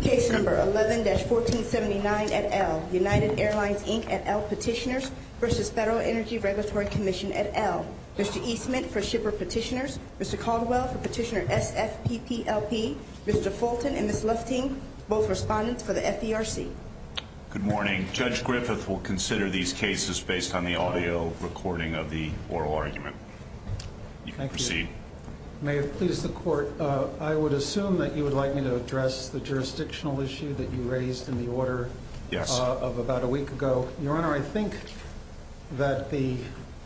Case No. 11-1479 at L. United Airlines, Inc. at L. Petitioners v. Federal Energy Regulatory Commission at L. Mr. Eastman for Shipper Petitioners, Mr. Caldwell for Petitioner SFPPLP, Mr. Fulton and Ms. Lufting, both respondents for the FERC. Good morning. Judge Griffith will consider these cases based on the audio recording of the oral argument. You can proceed. May it please the Court, I would assume that you would like me to address the jurisdictional issue that you raised in the order of about a week ago. Your Honor, I think that the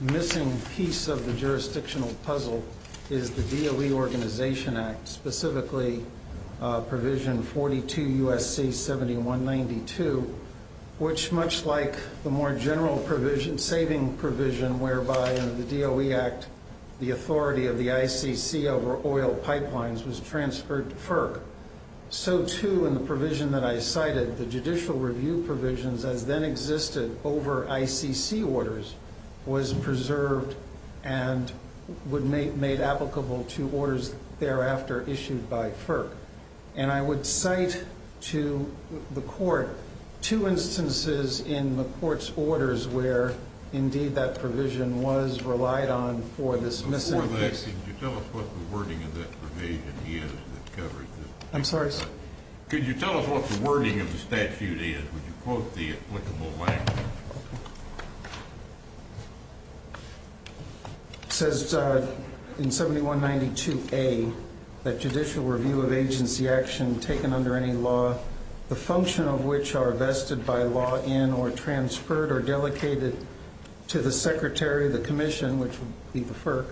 missing piece of the jurisdictional puzzle is the DOE Organization Act, specifically Provision 42 U.S.C. 7192, which, much like the more general provision, saving provision, whereby in the DOE Act the authority of the ICC over oil pipelines was transferred to FERC, so, too, in the provision that I cited, the judicial review provisions as then existed over ICC orders was preserved and made applicable to orders thereafter issued by FERC. And I would cite to the Court two instances in the Court's orders where, indeed, that provision was relied on for this missing piece. Before that, could you tell us what the wording of that provision is that covers this? I'm sorry? Could you tell us what the wording of the statute is? Would you quote the applicable language? It says in 7192A that judicial review of agency action taken under any law, the function of which are vested by law in or transferred or delegated to the secretary of the commission, which would be the FERC,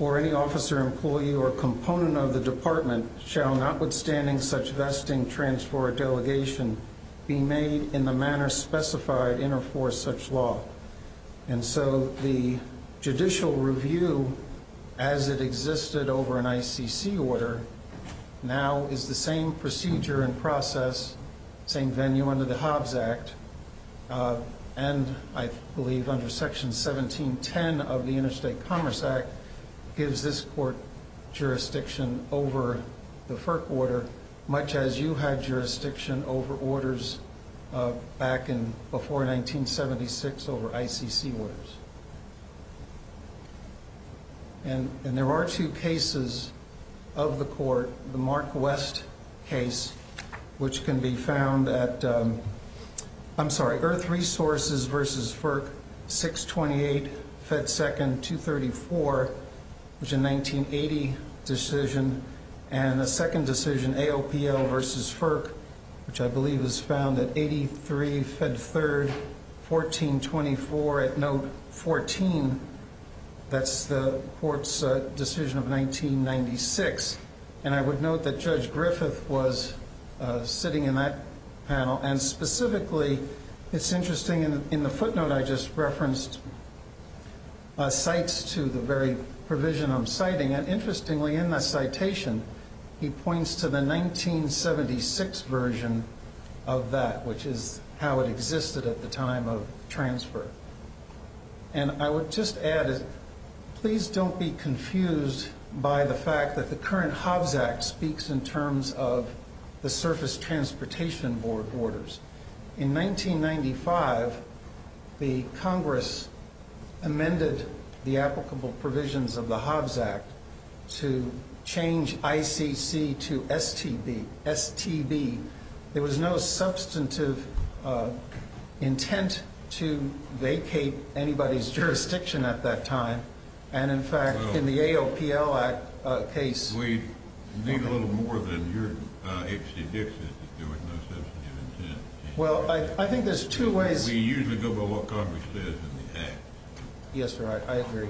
or any officer, employee, or component of the department shall notwithstanding such vesting, transfer, or delegation be made in the manner specified in or for such law. And so the judicial review, as it existed over an ICC order, now is the same procedure and process, same venue under the Hobbs Act, and I believe under Section 1710 of the Interstate Commerce Act gives this Court jurisdiction over the FERC order, much as you had jurisdiction over orders back in before 1976 over ICC orders. And there are two cases of the Court, the Mark West case, which can be found at, I'm sorry, Earth Resources v. FERC, 628 Fed 2nd, 234, which is a 1980 decision, and a second decision, AOPL v. FERC, which I believe is found at 83 Fed 3rd, 1424 at note 14, that's the Court's decision of 1996. And I would note that Judge Griffith was sitting in that panel, and specifically, it's interesting, in the footnote I just referenced, cites to the very provision I'm citing, and interestingly, in the citation, he points to the 1976 version of that, which is how it existed at the time of transfer. And I would just add, please don't be confused by the fact that the current Hobbs Act speaks in terms of the Surface Transportation Board orders. In 1995, the Congress amended the applicable provisions of the Hobbs Act to change ICC to STB. There was no substantive intent to vacate anybody's jurisdiction at that time. And, in fact, in the AOPL case... We need a little more than your H.C. Dixon to do it, no substantive intent. Well, I think there's two ways... We usually go by what Congress says in the Act. Yes, sir, I agree.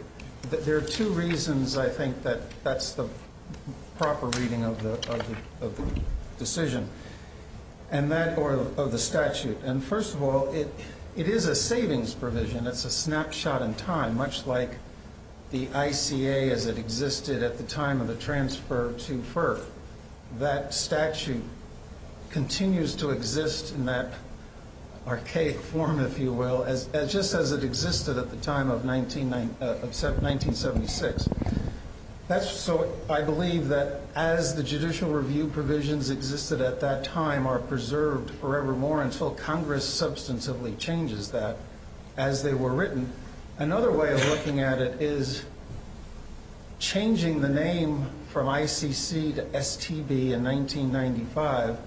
There are two reasons, I think, that that's the proper reading of the decision, and that, or of the statute. And, first of all, it is a savings provision. It's a snapshot in time, much like the ICA, as it existed at the time of the transfer to FERC. That statute continues to exist in that archaic form, if you will, just as it existed at the time of 1976. That's so, I believe, that as the judicial review provisions existed at that time are preserved forevermore until Congress substantively changes that as they were written. Another way of looking at it is changing the name from ICC to STB in 1995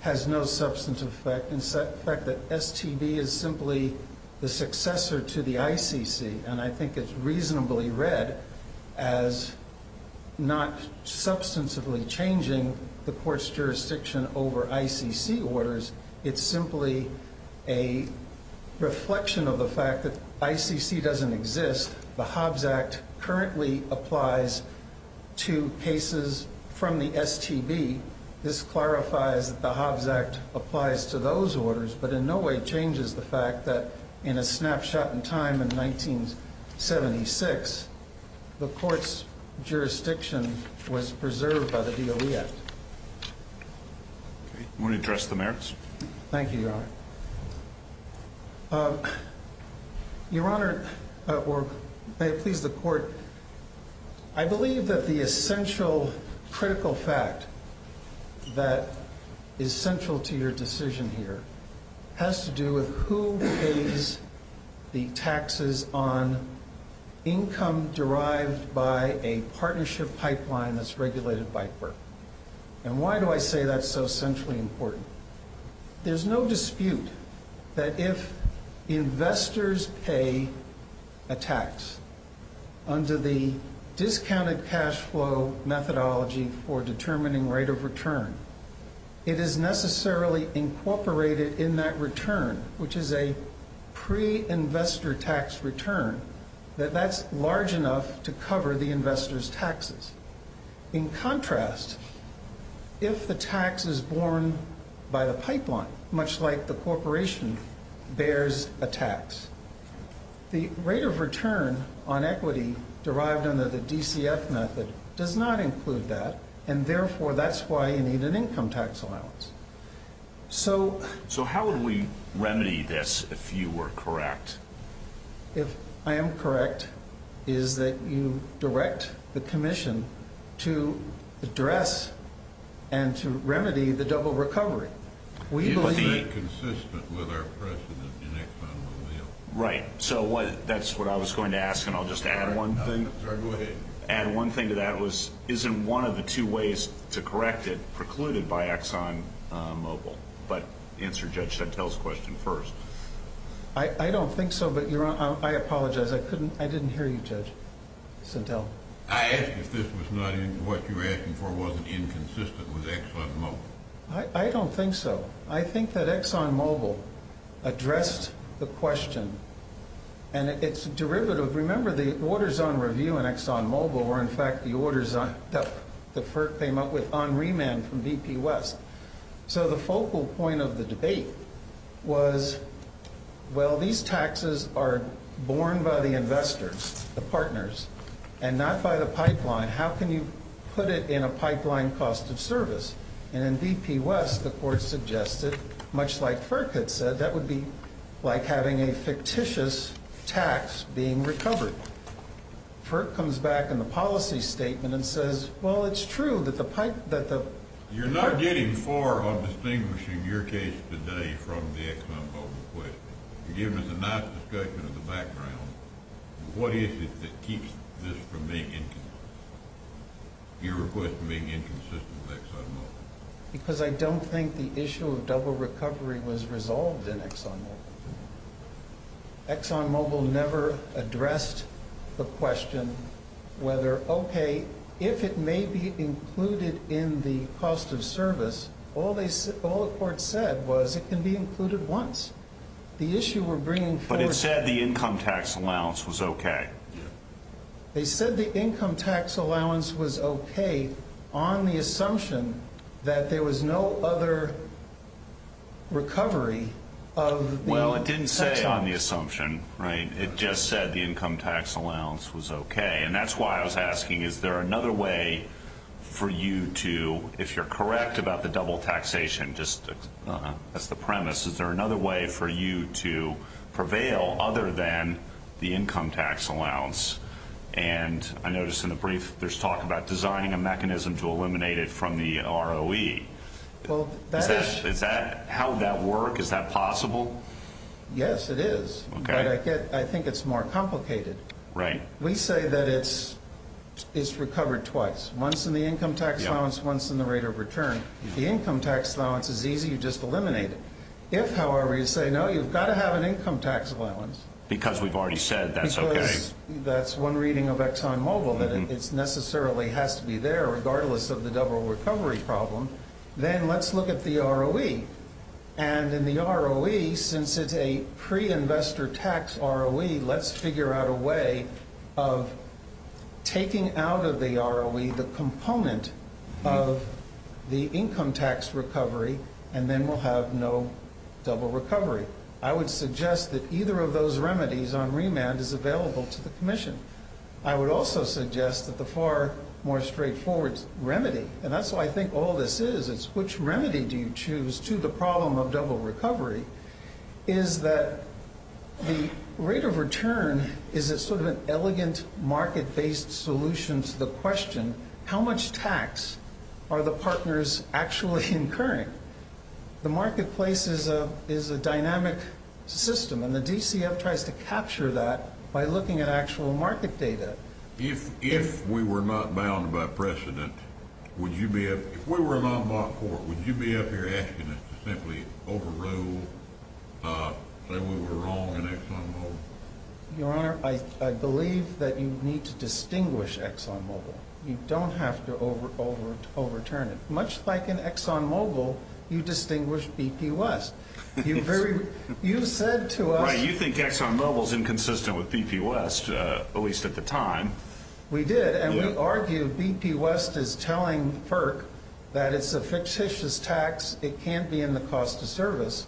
has no substantive effect. In fact, STB is simply the successor to the ICC, and I think it's reasonably read as not substantively changing the court's jurisdiction over ICC orders. It's simply a reflection of the fact that ICC doesn't exist. The Hobbs Act currently applies to cases from the STB. This clarifies that the Hobbs Act applies to those orders, but in no way changes the fact that in a snapshot in time in 1976, the court's jurisdiction was preserved by the DOE Act. Okay. You want to address the merits? Thank you, Your Honor. Your Honor, or may it please the court, I believe that the essential critical fact that is central to your decision here has to do with who pays the taxes on income derived by a partnership pipeline that's regulated by FERPA. And why do I say that's so centrally important? There's no dispute that if investors pay a tax under the discounted cash flow methodology for determining rate of return, it is necessarily incorporated in that return, which is a pre-investor tax return, that that's large enough to cover the investor's taxes. In contrast, if the tax is borne by the pipeline, much like the corporation bears a tax, the rate of return on equity derived under the DCF method does not include that, and therefore that's why you need an income tax allowance. So how would we remedy this if you were correct? If I am correct, is that you direct the commission to address and to remedy the double recovery. Is that consistent with our precedent in ExxonMobil? Right. So that's what I was going to ask, and I'll just add one thing. Go ahead. Add one thing to that was, isn't one of the two ways to correct it precluded by ExxonMobil? But answer Judge Chantel's question first. I don't think so, but I apologize. I didn't hear you, Judge Chantel. I asked if what you were asking for wasn't inconsistent with ExxonMobil. I don't think so. I think that ExxonMobil addressed the question, and it's derivative. Remember the orders on review in ExxonMobil were, in fact, the orders that FERC came up with on remand from BP West. So the focal point of the debate was, well, these taxes are borne by the investors, the partners, and not by the pipeline. How can you put it in a pipeline cost of service? And in BP West, the court suggested, much like FERC had said, that would be like having a fictitious tax being recovered. FERC comes back in the policy statement and says, well, it's true that the pipe— You're not getting far on distinguishing your case today from the ExxonMobil case. You're giving us a nice discussion of the background. What is it that keeps this from being inconsistent, your request for being inconsistent with ExxonMobil? Because I don't think the issue of double recovery was resolved in ExxonMobil. ExxonMobil never addressed the question whether, OK, if it may be included in the cost of service, all the court said was it can be included once. The issue we're bringing forward— But it said the income tax allowance was OK. They said the income tax allowance was OK on the assumption that there was no other recovery of— Well, it didn't say on the assumption, right? It just said the income tax allowance was OK. And that's why I was asking, is there another way for you to, if you're correct about the double taxation, just as the premise, is there another way for you to prevail other than the income tax allowance? And I noticed in the brief there's talk about designing a mechanism to eliminate it from the ROE. Well, that is— How would that work? Is that possible? Yes, it is. OK. But I think it's more complicated. Right. We say that it's recovered twice, once in the income tax allowance, once in the rate of return. If the income tax allowance is easy, you just eliminate it. If, however, you say, no, you've got to have an income tax allowance— Because we've already said that's OK. Because that's one reading of ExxonMobil, that it necessarily has to be there regardless of the double recovery problem, then let's look at the ROE. And in the ROE, since it's a pre-investor tax ROE, let's figure out a way of taking out of the ROE the component of the income tax recovery, and then we'll have no double recovery. I would suggest that either of those remedies on remand is available to the Commission. I would also suggest that the far more straightforward remedy— to the problem of double recovery—is that the rate of return is sort of an elegant, market-based solution to the question, how much tax are the partners actually incurring? The marketplace is a dynamic system, and the DCF tries to capture that by looking at actual market data. If we were not bound by precedent, would you be—if we were not bound by court, would you be up here asking us to simply overrule, say we were wrong in ExxonMobil? Your Honor, I believe that you need to distinguish ExxonMobil. You don't have to overturn it. Much like in ExxonMobil, you distinguish BP West. You've said to us— Right, you think ExxonMobil is inconsistent with BP West, at least at the time. We did, and we argue BP West is telling FERC that it's a fictitious tax, it can't be in the cost of service.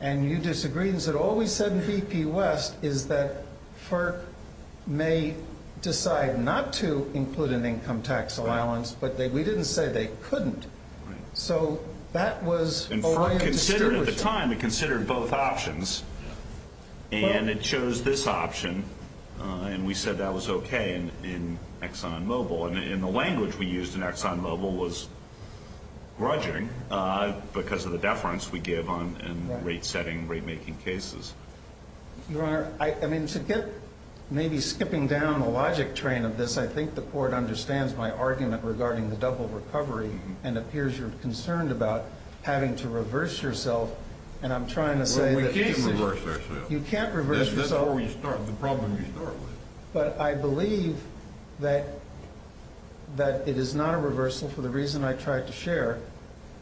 And you disagreed and said all we said in BP West is that FERC may decide not to include an income tax allowance, but we didn't say they couldn't. Right. So that was a line of distinguishment. At the time, we considered both options, and it chose this option, and we said that was okay in ExxonMobil. And the language we used in ExxonMobil was grudging because of the deference we give on rate-setting, rate-making cases. Your Honor, I mean, to get—maybe skipping down the logic train of this, I think the Court understands my argument regarding the double recovery, and it appears you're concerned about having to reverse yourself. And I'm trying to say that— Well, we can't reverse ourselves. You can't reverse yourself? That's where we start, the problem we start with. But I believe that it is not a reversal for the reason I tried to share.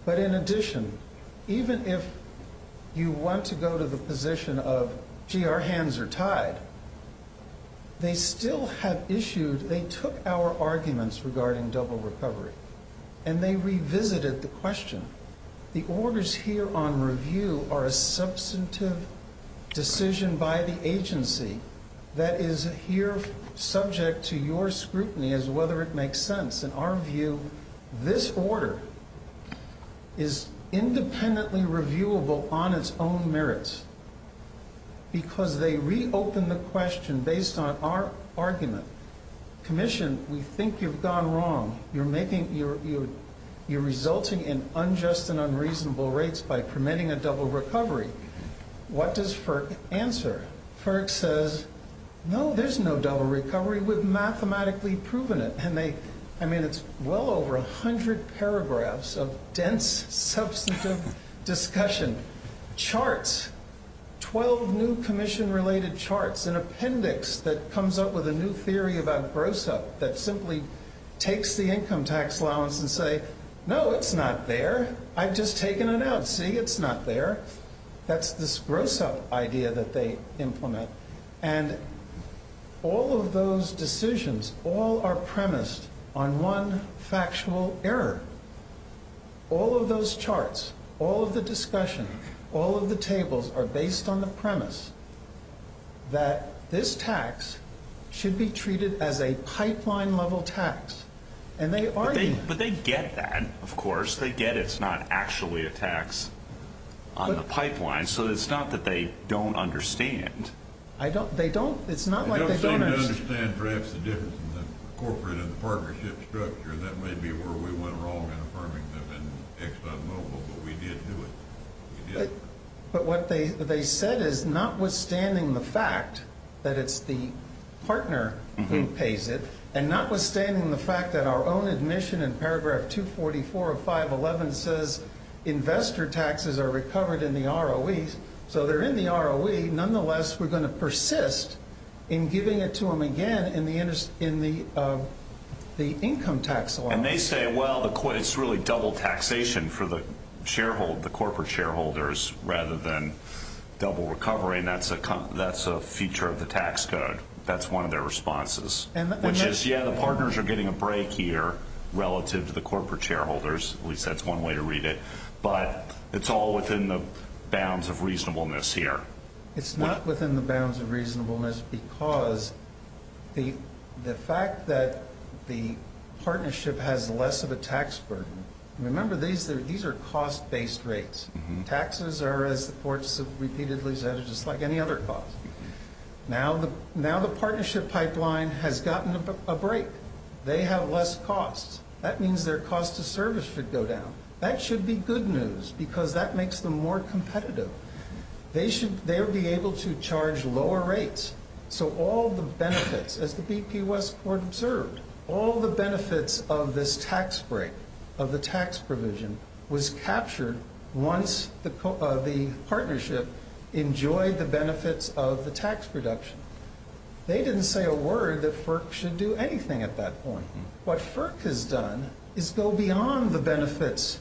But in addition, even if you want to go to the position of, gee, our hands are tied, they still have issued—they took our arguments regarding double recovery, and they revisited the question. The orders here on review are a substantive decision by the agency that is here subject to your scrutiny as whether it makes sense. In our view, this order is independently reviewable on its own merits because they reopen the question based on our argument. Commission, we think you've gone wrong. You're resulting in unjust and unreasonable rates by permitting a double recovery. What does FERC answer? FERC says, no, there's no double recovery. We've mathematically proven it. I mean, it's well over 100 paragraphs of dense, substantive discussion. Charts, 12 new commission-related charts, an appendix that comes up with a new theory about gross-up that simply takes the income tax allowance and say, no, it's not there. I've just taken it out. See, it's not there. That's this gross-up idea that they implement. And all of those decisions, all are premised on one factual error. All of those charts, all of the discussion, all of the tables are based on the premise that this tax should be treated as a pipeline-level tax. But they get that, of course. They get it's not actually a tax on the pipeline. So it's not that they don't understand. It's not like they don't understand. They don't seem to understand perhaps the difference in the corporate and the partnership structure. That may be where we went wrong in affirming them in ExxonMobil, but we did do it. But what they said is notwithstanding the fact that it's the partner who pays it and notwithstanding the fact that our own admission in paragraph 244 of 511 says investor taxes are recovered in the ROEs. So they're in the ROE. Nonetheless, we're going to persist in giving it to them again in the income tax allowance. And they say, well, it's really double taxation for the corporate shareholders rather than double recovery, and that's a feature of the tax code. That's one of their responses, which is, yeah, the partners are getting a break here relative to the corporate shareholders. At least that's one way to read it. But it's all within the bounds of reasonableness here. It's not within the bounds of reasonableness because the fact that the partnership has less of a tax burden. Remember, these are cost-based rates. Taxes are, as the courts have repeatedly said, just like any other cost. Now the partnership pipeline has gotten a break. They have less costs. That means their cost of service should go down. That should be good news because that makes them more competitive. They should be able to charge lower rates. So all the benefits, as the BP West Court observed, all the benefits of this tax break, of the tax provision, was captured once the partnership enjoyed the benefits of the tax reduction. They didn't say a word that FERC should do anything at that point. What FERC has done is go beyond the benefits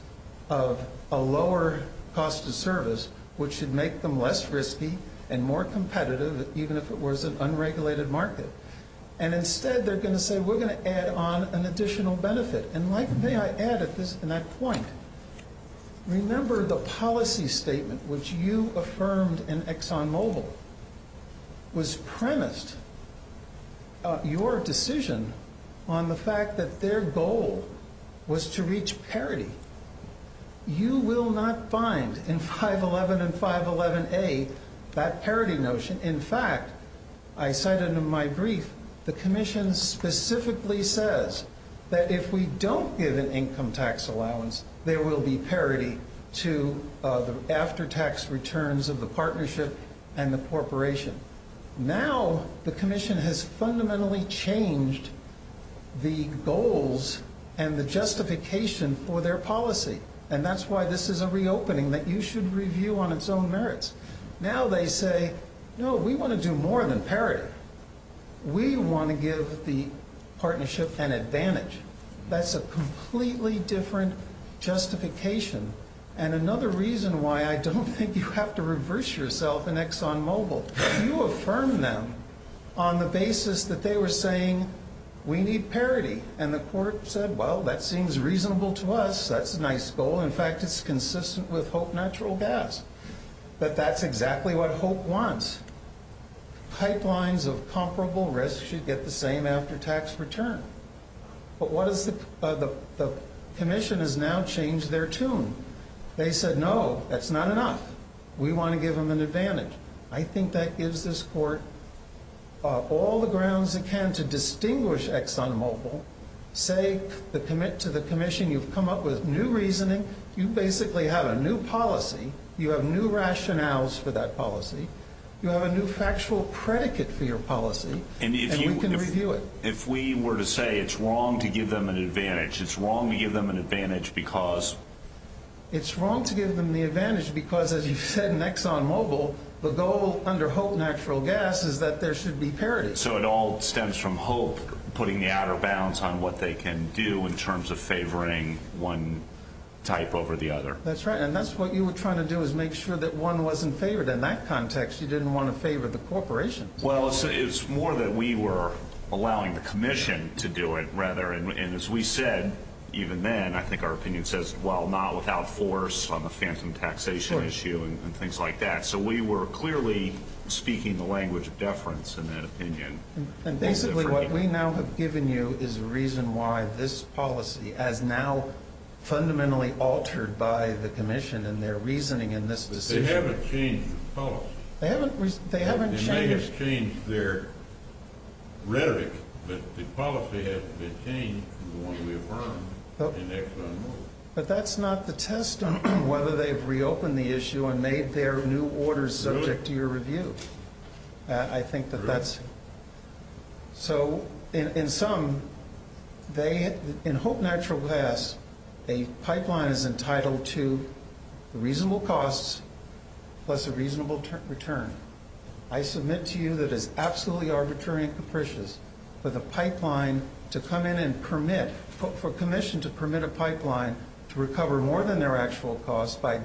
of a lower cost of service, which should make them less risky and more competitive, even if it was an unregulated market. And instead they're going to say we're going to add on an additional benefit. And may I add at that point, remember the policy statement which you affirmed in ExxonMobil was premised your decision on the fact that their goal was to reach parity. You will not find in 511 and 511A that parity notion. In fact, I cited in my brief, the commission specifically says that if we don't give an income tax allowance, there will be parity to the after-tax returns of the partnership and the corporation. Now the commission has fundamentally changed the goals and the justification for their policy. And that's why this is a reopening that you should review on its own merits. Now they say, no, we want to do more than parity. We want to give the partnership an advantage. That's a completely different justification. And another reason why I don't think you have to reverse yourself in ExxonMobil. You affirm them on the basis that they were saying we need parity. And the court said, well, that seems reasonable to us. That's a nice goal. In fact, it's consistent with HOPE Natural Gas. But that's exactly what HOPE wants. Pipelines of comparable risk should get the same after-tax return. But the commission has now changed their tune. They said, no, that's not enough. We want to give them an advantage. I think that gives this court all the grounds it can to distinguish ExxonMobil. Say to the commission, you've come up with new reasoning. You basically have a new policy. You have new rationales for that policy. You have a new factual predicate for your policy. And we can review it. If we were to say it's wrong to give them an advantage, it's wrong to give them an advantage because? It's wrong to give them the advantage because, as you said in ExxonMobil, the goal under HOPE Natural Gas is that there should be parity. So it all stems from HOPE putting the outer bounds on what they can do in terms of favoring one type over the other. That's right. And that's what you were trying to do is make sure that one wasn't favored. In that context, you didn't want to favor the corporation. Well, it's more that we were allowing the commission to do it, rather. And as we said, even then, I think our opinion says, well, not without force on the phantom taxation issue and things like that. So we were clearly speaking the language of deference in that opinion. And basically what we now have given you is a reason why this policy, as now fundamentally altered by the commission They haven't changed the policy. They may have changed their rhetoric, but the policy hasn't been changed from the one we affirmed in ExxonMobil. But that's not the test on whether they've reopened the issue and made their new orders subject to your review. I think that that's... So in sum, in HOPE Natural Gas, a pipeline is entitled to reasonable costs plus a reasonable return. I submit to you that it's absolutely arbitrary and capricious for the pipeline to come in and permit... for a commission to permit a pipeline to recover more than their actual cost by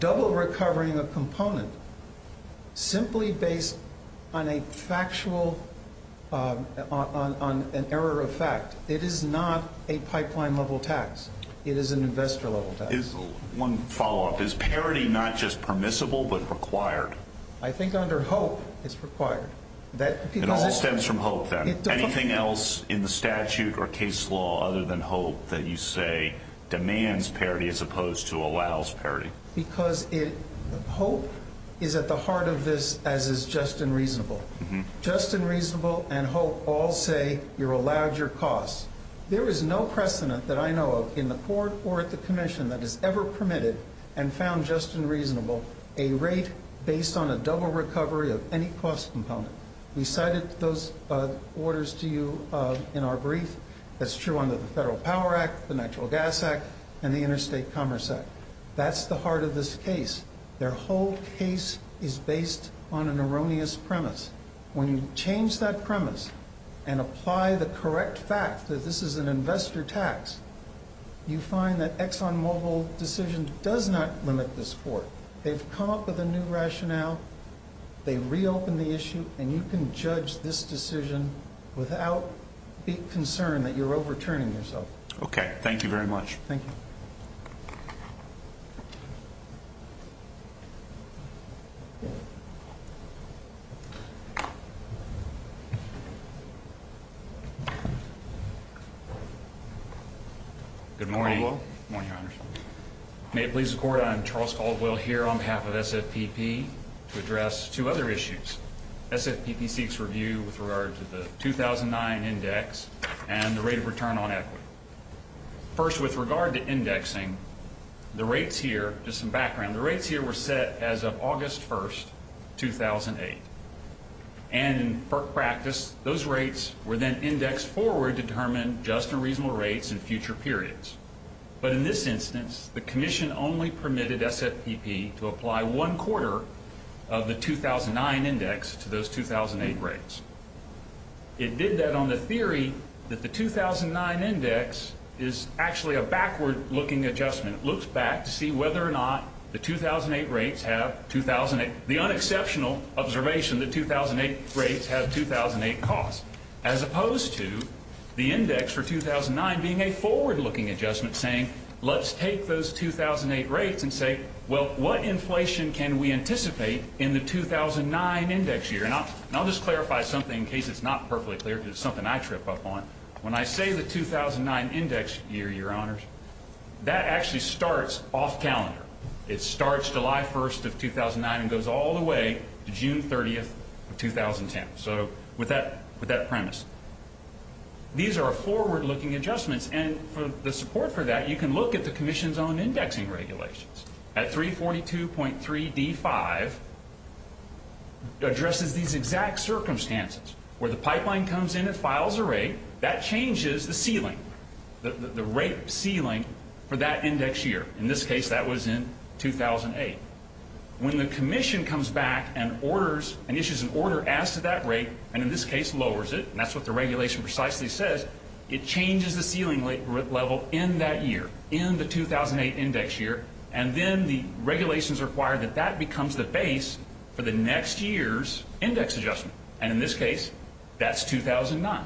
double-recovering a component simply based on a factual... on an error of fact. It is not a pipeline-level tax. It is an investor-level tax. One follow-up. Is parity not just permissible but required? I think under HOPE it's required. It all stems from HOPE, then? Anything else in the statute or case law other than HOPE that you say demands parity as opposed to allows parity? Because HOPE is at the heart of this as is Just and Reasonable. Just and Reasonable and HOPE all say you're allowed your costs. There is no precedent that I know of in the court or at the commission that has ever permitted and found Just and Reasonable a rate based on a double recovery of any cost component. We cited those orders to you in our brief. That's true under the Federal Power Act, the Natural Gas Act, and the Interstate Commerce Act. That's the heart of this case. Their whole case is based on an erroneous premise. When you change that premise and apply the correct fact that this is an investor tax, you find that Exxon Mobil's decision does not limit this court. They've come up with a new rationale, they've reopened the issue, and you can judge this decision without the concern that you're overturning yourself. Okay. Thank you very much. Thank you. Good morning. May it please the Court, I'm Charles Caldwell here on behalf of SFPP to address two other issues. SFPP seeks review with regard to the 2009 index and the rate of return on equity. First, with regard to indexing, the rates here, just some background, the rates here were set as of August 1, 2008. And in practice, those rates were then indexed forward to determine just and reasonable rates in future periods. But in this instance, the Commission only permitted SFPP to apply one-quarter of the 2009 index to those 2008 rates. It did that on the theory that the 2009 index is actually a backward-looking adjustment. It looks back to see whether or not the 2008 rates have 2008. The unexceptional observation, the 2008 rates have 2008 costs, as opposed to the index for 2009 being a forward-looking adjustment, saying let's take those 2008 rates and say, well, what inflation can we anticipate in the 2009 index year? And I'll just clarify something in case it's not perfectly clear because it's something I trip up on. When I say the 2009 index year, Your Honors, that actually starts off calendar. It starts July 1 of 2009 and goes all the way to June 30 of 2010. So with that premise, these are forward-looking adjustments. And for the support for that, you can look at the Commission's own indexing regulations. At 342.3d5, it addresses these exact circumstances. Where the pipeline comes in, it files a rate. That changes the ceiling, the rate ceiling for that index year. In this case, that was in 2008. When the Commission comes back and issues an order as to that rate, and in this case lowers it, and that's what the regulation precisely says, it changes the ceiling level in that year, in the 2008 index year, and then the regulations require that that becomes the base for the next year's index adjustment. And in this case, that's 2009.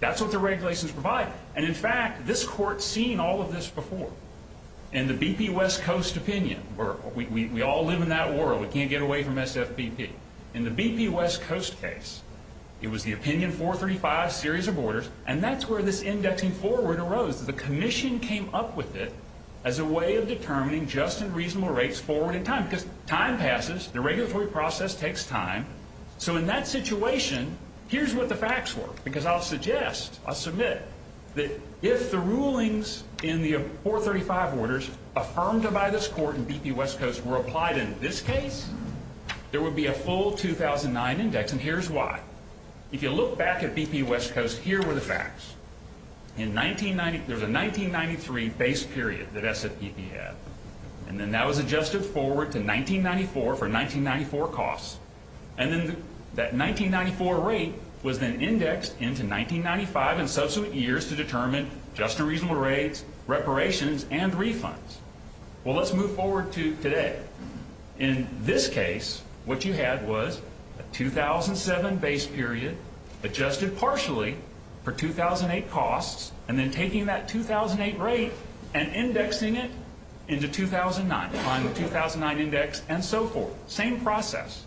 That's what the regulations provide. And, in fact, this Court's seen all of this before. In the BP West Coast opinion, we all live in that world. We can't get away from SFBP. In the BP West Coast case, it was the Opinion 435 series of orders, and that's where this indexing forward arose. The Commission came up with it as a way of determining just and reasonable rates forward in time. Because time passes. The regulatory process takes time. So in that situation, here's what the facts were. Because I'll suggest, I'll submit, that if the rulings in the 435 orders affirmed by this Court in BP West Coast were applied in this case, there would be a full 2009 index, and here's why. If you look back at BP West Coast, here were the facts. There was a 1993 base period that SFBP had, and then that was adjusted forward to 1994 for 1994 costs. And then that 1994 rate was then indexed into 1995 and subsequent years to determine just and reasonable rates, reparations, and refunds. Well, let's move forward to today. In this case, what you had was a 2007 base period adjusted partially for 2008 costs, and then taking that 2008 rate and indexing it into 2009, applying the 2009 index and so forth. Same process.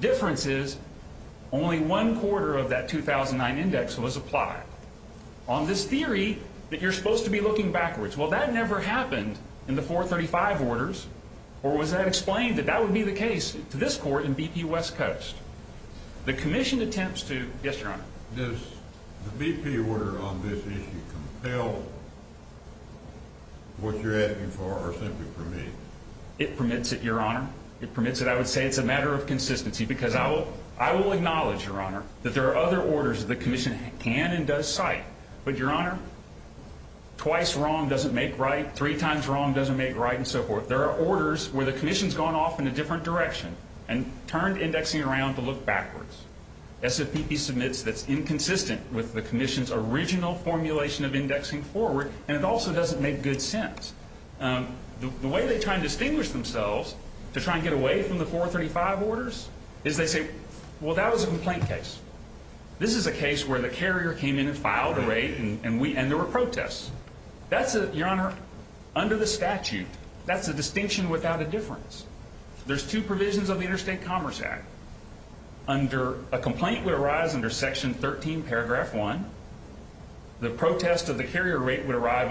Difference is only one quarter of that 2009 index was applied. On this theory that you're supposed to be looking backwards, well, that never happened in the 435 orders, or was that explained that that would be the case to this Court in BP West Coast? The commission attempts to... Yes, Your Honor. Does the BP order on this issue compel what you're asking for or simply permit? It permits it, Your Honor. It permits it. I would say it's a matter of consistency because I will acknowledge, Your Honor, that there are other orders that the commission can and does cite, but, Your Honor, twice wrong doesn't make right, three times wrong doesn't make right, and so forth. There are orders where the commission's gone off in a different direction and turned indexing around to look backwards. SFBP submits that's inconsistent with the commission's original formulation of indexing forward, and it also doesn't make good sense. The way they try and distinguish themselves to try and get away from the 435 orders is they say, well, that was a complaint case. This is a case where the carrier came in and filed a rate, and there were protests. That's a, Your Honor, under the statute, that's a distinction without a difference. There's two provisions of the Interstate Commerce Act. A complaint would arise under Section 13, Paragraph 1. The protest of the carrier rate would arise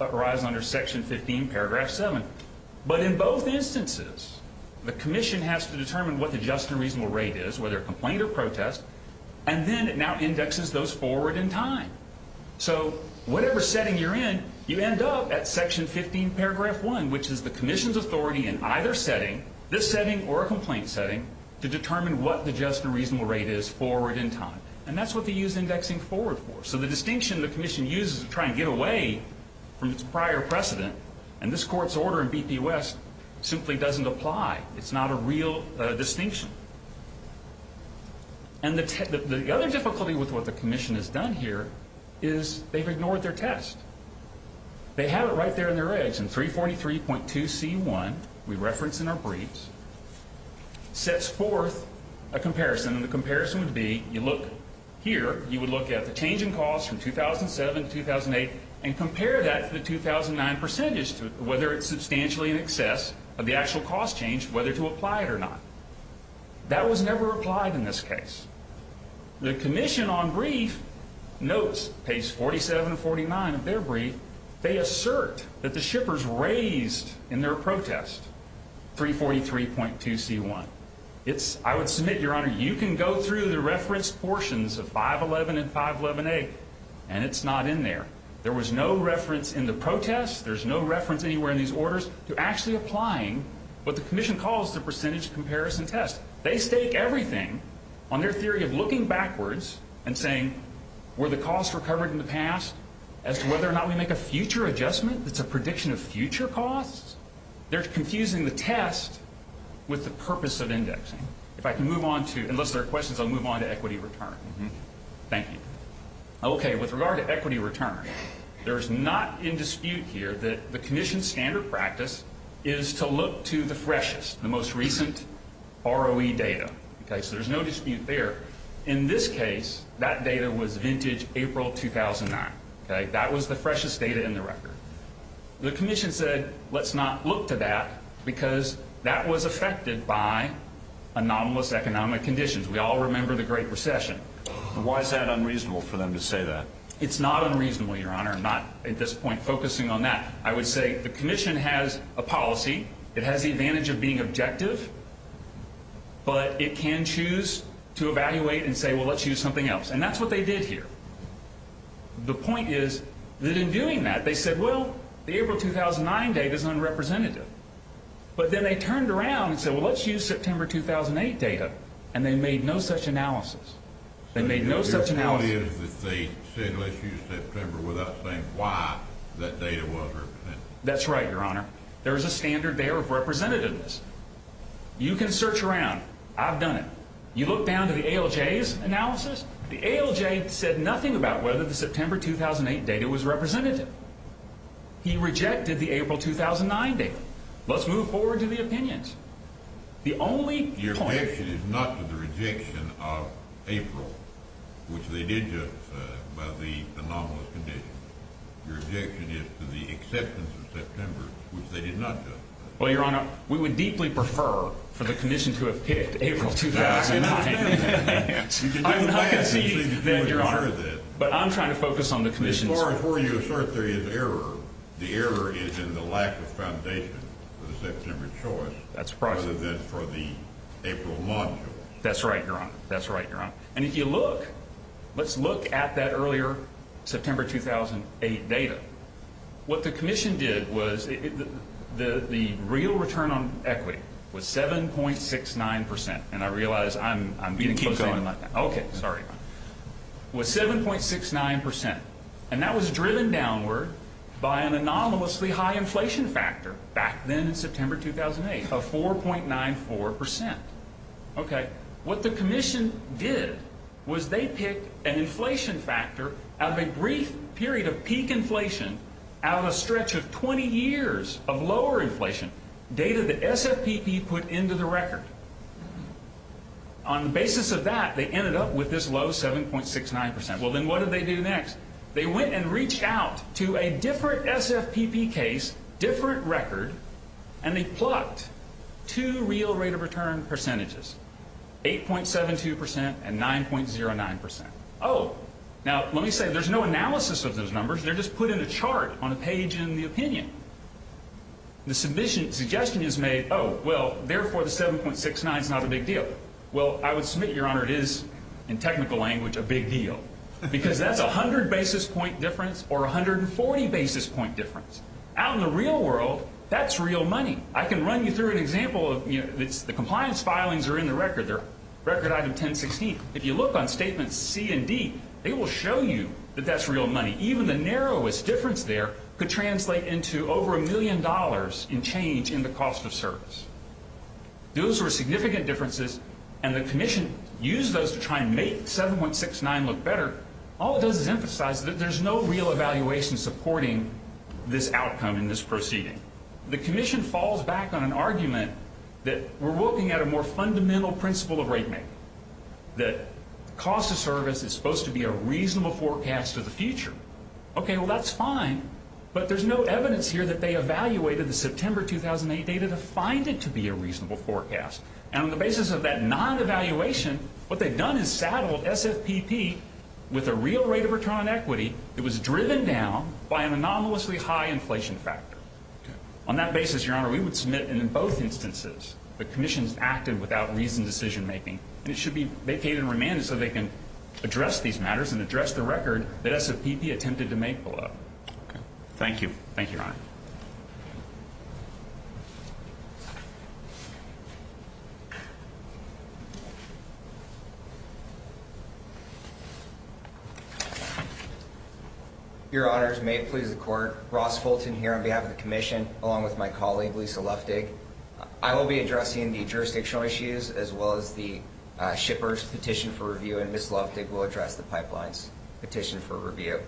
under Section 15, Paragraph 7. But in both instances, the commission has to determine what the just and reasonable rate is, whether a complaint or protest, and then it now indexes those forward in time. So whatever setting you're in, you end up at Section 15, Paragraph 1, which is the commission's authority in either setting, this setting or a complaint setting, to determine what the just and reasonable rate is forward in time, and that's what they use indexing forward for. So the distinction the commission uses to try and get away from its prior precedent, and this court's order in BP West simply doesn't apply. It's not a real distinction. And the other difficulty with what the commission has done here is they've ignored their test. They have it right there in their eggs in 343.2c1, we reference in our briefs, sets forth a comparison, and the comparison would be you look here, you would look at the change in cost from 2007 to 2008 and compare that to the 2009 percentage, whether it's substantially in excess of the actual cost change, whether to apply it or not. That was never applied in this case. The commission on brief notes, page 47 and 49 of their brief, they assert that the shippers raised in their protest 343.2c1. I would submit, Your Honor, you can go through the reference portions of 511 and 511A, and it's not in there. There was no reference in the protest, there's no reference anywhere in these orders to actually applying what the commission calls the percentage comparison test. They stake everything on their theory of looking backwards and saying were the costs recovered in the past as to whether or not we make a future adjustment that's a prediction of future costs. They're confusing the test with the purpose of indexing. If I can move on to, unless there are questions, I'll move on to equity return. Thank you. Okay, with regard to equity return, there's not in dispute here that the commission's standard practice is to look to the freshest, the most recent ROE data. So there's no dispute there. In this case, that data was vintage April 2009. That was the freshest data in the record. The commission said let's not look to that because that was affected by anomalous economic conditions. We all remember the Great Recession. Why is that unreasonable for them to say that? It's not unreasonable, Your Honor, I'm not at this point focusing on that. I would say the commission has a policy. It has the advantage of being objective, but it can choose to evaluate and say, well, let's use something else, and that's what they did here. The point is that in doing that, they said, well, the April 2009 data is unrepresentative. But then they turned around and said, well, let's use September 2008 data, and they made no such analysis. They made no such analysis. So their point is that they said let's use September without saying why that data was representative. That's right, Your Honor. There is a standard there of representativeness. You can search around. I've done it. You look down to the ALJ's analysis, the ALJ said nothing about whether the September 2008 data was representative. He rejected the April 2009 data. Let's move forward to the opinions. The only point... Your objection is not to the rejection of April, which they did justify by the anomalous condition. Your objection is to the acceptance of September, which they did not justify. Well, Your Honor, we would deeply prefer for the commission to have picked April 2009. I'm not conceding, Your Honor. But I'm trying to focus on the commission's position. As far as where you assert there is error, the error is in the lack of foundation for the September choice rather than for the April launch. That's right, Your Honor. That's right, Your Honor. And if you look, let's look at that earlier September 2008 data. What the commission did was the real return on equity was 7.69%, and I realize I'm going to keep going like that. Okay, sorry. It was 7.69%, and that was driven downward by an anomalously high inflation factor back then in September 2008 of 4.94%. Okay. What the commission did was they picked an inflation factor out of a brief period of peak inflation out of a stretch of 20 years of lower inflation, data that SFPP put into the record. On the basis of that, they ended up with this low 7.69%. Well, then what did they do next? They went and reached out to a different SFPP case, different record, and they plucked two real rate of return percentages, 8.72% and 9.09%. Oh, now let me say, there's no analysis of those numbers. They're just put in a chart on a page in the opinion. The submission suggestion is made, oh, well, therefore the 7.69% is not a big deal. Well, I would submit, Your Honor, it is in technical language a big deal because that's 100 basis point difference or 140 basis point difference. Out in the real world, that's real money. I can run you through an example. The compliance filings are in the record. They're record item 1016. If you look on statements C and D, they will show you that that's real money. Even the narrowest difference there could translate into over a million dollars in change in the cost of service. Those were significant differences, and the commission used those to try and make 7.69% look better. All it does is emphasize that there's no real evaluation supporting this outcome in this proceeding. The commission falls back on an argument that we're looking at a more fundamental principle of rate making, that the cost of service is supposed to be a reasonable forecast of the future. Okay, well, that's fine, but there's no evidence here that they evaluated the September 2008 data to find it to be a reasonable forecast. And on the basis of that non-evaluation, what they've done is saddled SFPP with a real rate of return on equity that was driven down by an anomalously high inflation factor. On that basis, Your Honor, we would submit, and in both instances, the commission's acted without reasoned decision-making. And it should be vacated and remanded so they can address these matters and address the record that SFPP attempted to make below. Okay. Thank you. Thank you, Your Honor. Your Honors, may it please the Court, Ross Fulton here on behalf of the commission, along with my colleague, Lisa Luftig. I will be addressing the jurisdictional issues as well as the shipper's petition for review, and Ms. Luftig will address the pipeline's petition for review.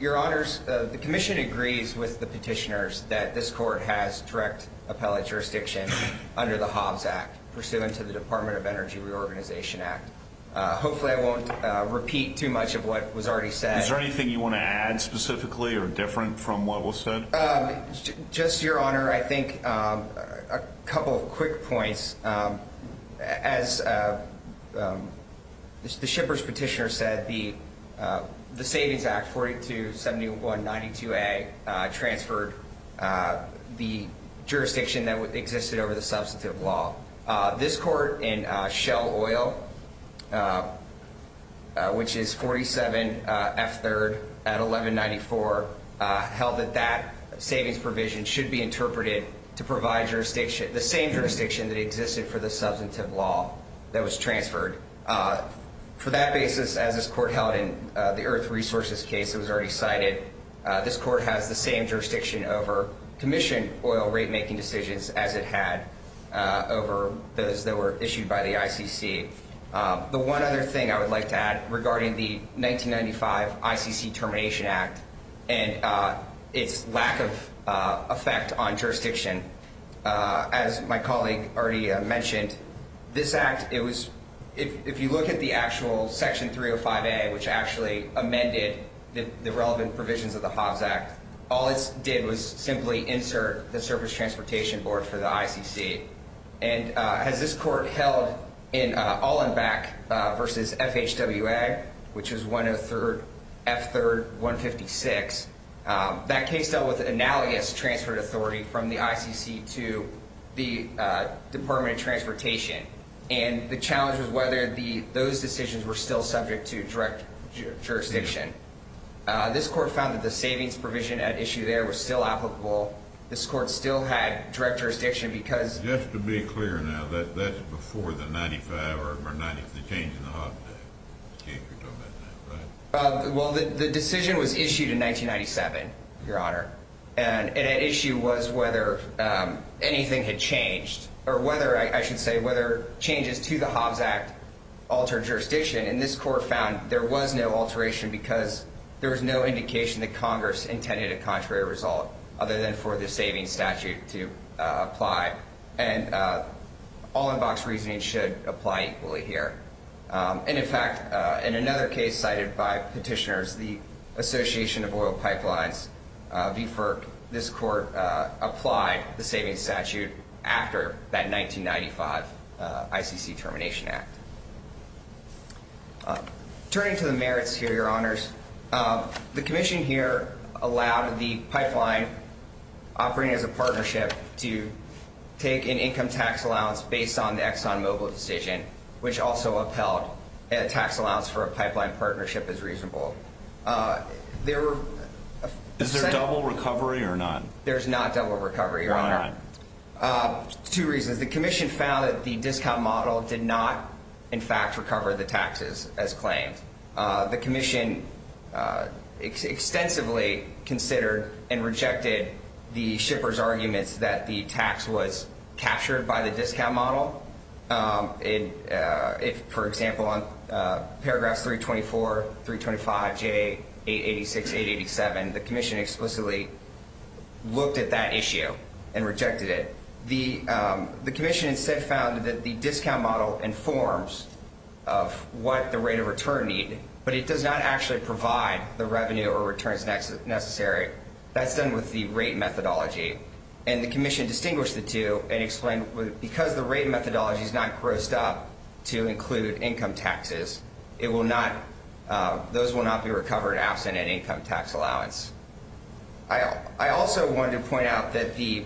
Your Honors, the commission agrees with the petitioners that this Court has direct appellate jurisdiction under the Hobbs Act, pursuant to the Department of Energy Reorganization Act. Hopefully I won't repeat too much of what was already said. Is there anything you want to add specifically or different from what was said? Just, Your Honor, I think a couple of quick points. As the shipper's petitioner said, the Savings Act 427192A transferred the jurisdiction that existed over the substantive law. This Court in Shell Oil, which is 47F3rd at 1194, held that that savings provision should be interpreted to provide the same jurisdiction that existed for the substantive law that was transferred. For that basis, as this Court held in the Earth Resources case that was already cited, this Court has the same jurisdiction over commission oil rate-making decisions as it had over those that were issued by the ICC. The one other thing I would like to add regarding the 1995 ICC Termination Act and its lack of effect on jurisdiction, as my colleague already mentioned, this Act, if you look at the actual Section 305A, which actually amended the relevant provisions of the Hobbs Act, all it did was simply insert the Surface Transportation Board for the ICC. And as this Court held in All-in-Back v. FHWA, which was F3rd 156, that case dealt with an alias transferred authority from the ICC to the Department of Transportation, and the challenge was whether those decisions were still subject to direct jurisdiction. This Court found that the savings provision at issue there was still applicable. This Court still had direct jurisdiction because— Just to be clear now, that's before the 1995 or the change in the Hobbs Act, if you're talking about that, right? Well, the decision was issued in 1997, Your Honor, and at issue was whether anything had changed, or whether, I should say, whether changes to the Hobbs Act altered jurisdiction. And this Court found there was no alteration because there was no indication that Congress intended a contrary result other than for the savings statute to apply. And all-in-box reasoning should apply equally here. And, in fact, in another case cited by petitioners, the Association of Oil Pipelines v. FERC, this Court applied the savings statute after that 1995 ICC Termination Act. Turning to the merits here, Your Honors, the Commission here allowed the pipeline operating as a partnership to take an income tax allowance based on the ExxonMobil decision, which also upheld a tax allowance for a pipeline partnership as reasonable. Is there double recovery or none? There's not double recovery, Your Honor. Why not? Two reasons. The Commission found that the discount model did not, in fact, recover the taxes as claimed. The Commission extensively considered and rejected the shippers' arguments that the tax was captured by the discount model. For example, in paragraphs 324, 325J, 886, 887, the Commission explicitly looked at that issue and rejected it. The Commission instead found that the discount model informs of what the rate of return need, but it does not actually provide the revenue or returns necessary. That's done with the rate methodology. And the Commission distinguished the two and explained because the rate methodology is not grossed up to include income taxes, those will not be recovered absent an income tax allowance. I also wanted to point out that the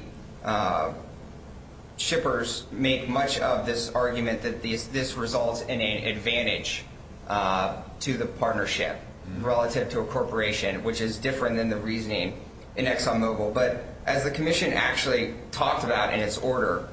shippers make much of this argument that this results in an advantage to the partnership relative to a corporation, which is different than the reasoning in ExxonMobil. But as the Commission actually talked about in its order,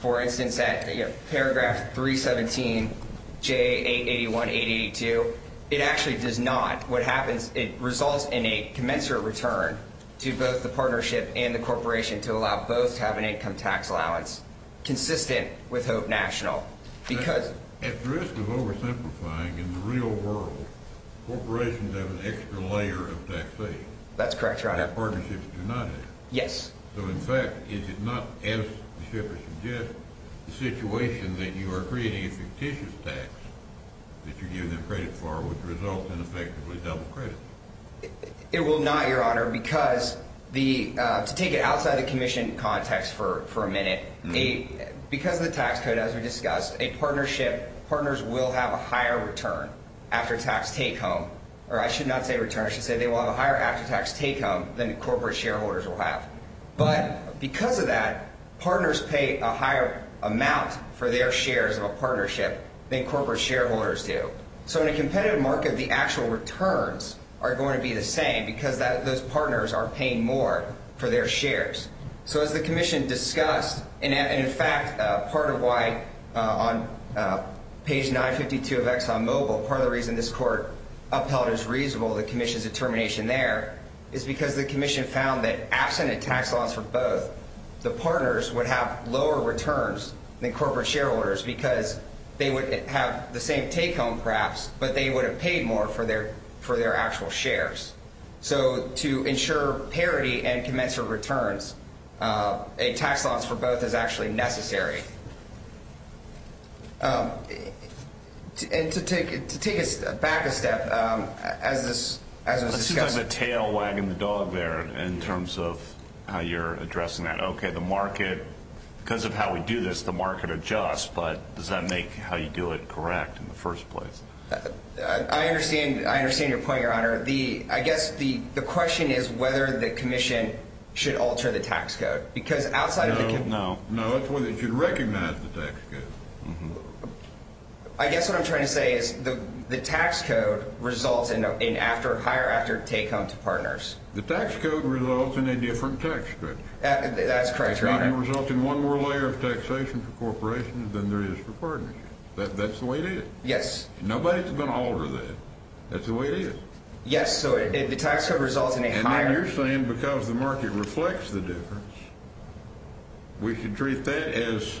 for instance, at paragraph 317J, 881, 882, it actually does not. What happens, it results in a commensurate return to both the partnership and the corporation to allow both to have an income tax allowance consistent with HOPE National. At risk of oversimplifying, in the real world, corporations have an extra layer of taxes. That's correct, Your Honor. And partnerships do not have. Yes. So, in fact, is it not, as the shippers suggest, the situation that you are creating a fictitious tax that you're giving them credit for would result in effectively double credit? It will not, Your Honor, because to take it outside the Commission context for a minute, because of the tax code, as we discussed, partners will have a higher return after tax take-home. Or I should not say return. I should say they will have a higher after tax take-home than corporate shareholders will have. But because of that, partners pay a higher amount for their shares of a partnership than corporate shareholders do. So, in a competitive market, the actual returns are going to be the same because those partners are paying more for their shares. So, as the Commission discussed, and, in fact, part of why on page 952 of ExxonMobil, part of the reason this court upheld as reasonable the Commission's determination there is because the Commission found that absent a tax loss for both, the partners would have lower returns than corporate shareholders because they would have the same take-home, perhaps, but they would have paid more for their actual shares. So, to ensure parity and commensurate returns, a tax loss for both is actually necessary. And to take back a step, as was discussed. It seems like the tail wagging the dog there in terms of how you're addressing that. Okay, the market, because of how we do this, the market adjusts, but does that make how you do it correct in the first place? I understand your point, Your Honor. I guess the question is whether the Commission should alter the tax code. No, no, it's whether it should recognize the tax code. I guess what I'm trying to say is the tax code results in higher after take-home to partners. The tax code results in a different tax structure. That's correct, Your Honor. It doesn't result in one more layer of taxation for corporations than there is for partnerships. That's the way it is. Yes. Nobody's going to alter that. That's the way it is. Yes, so the tax code results in a higher… And then you're saying because the market reflects the difference, we should treat that as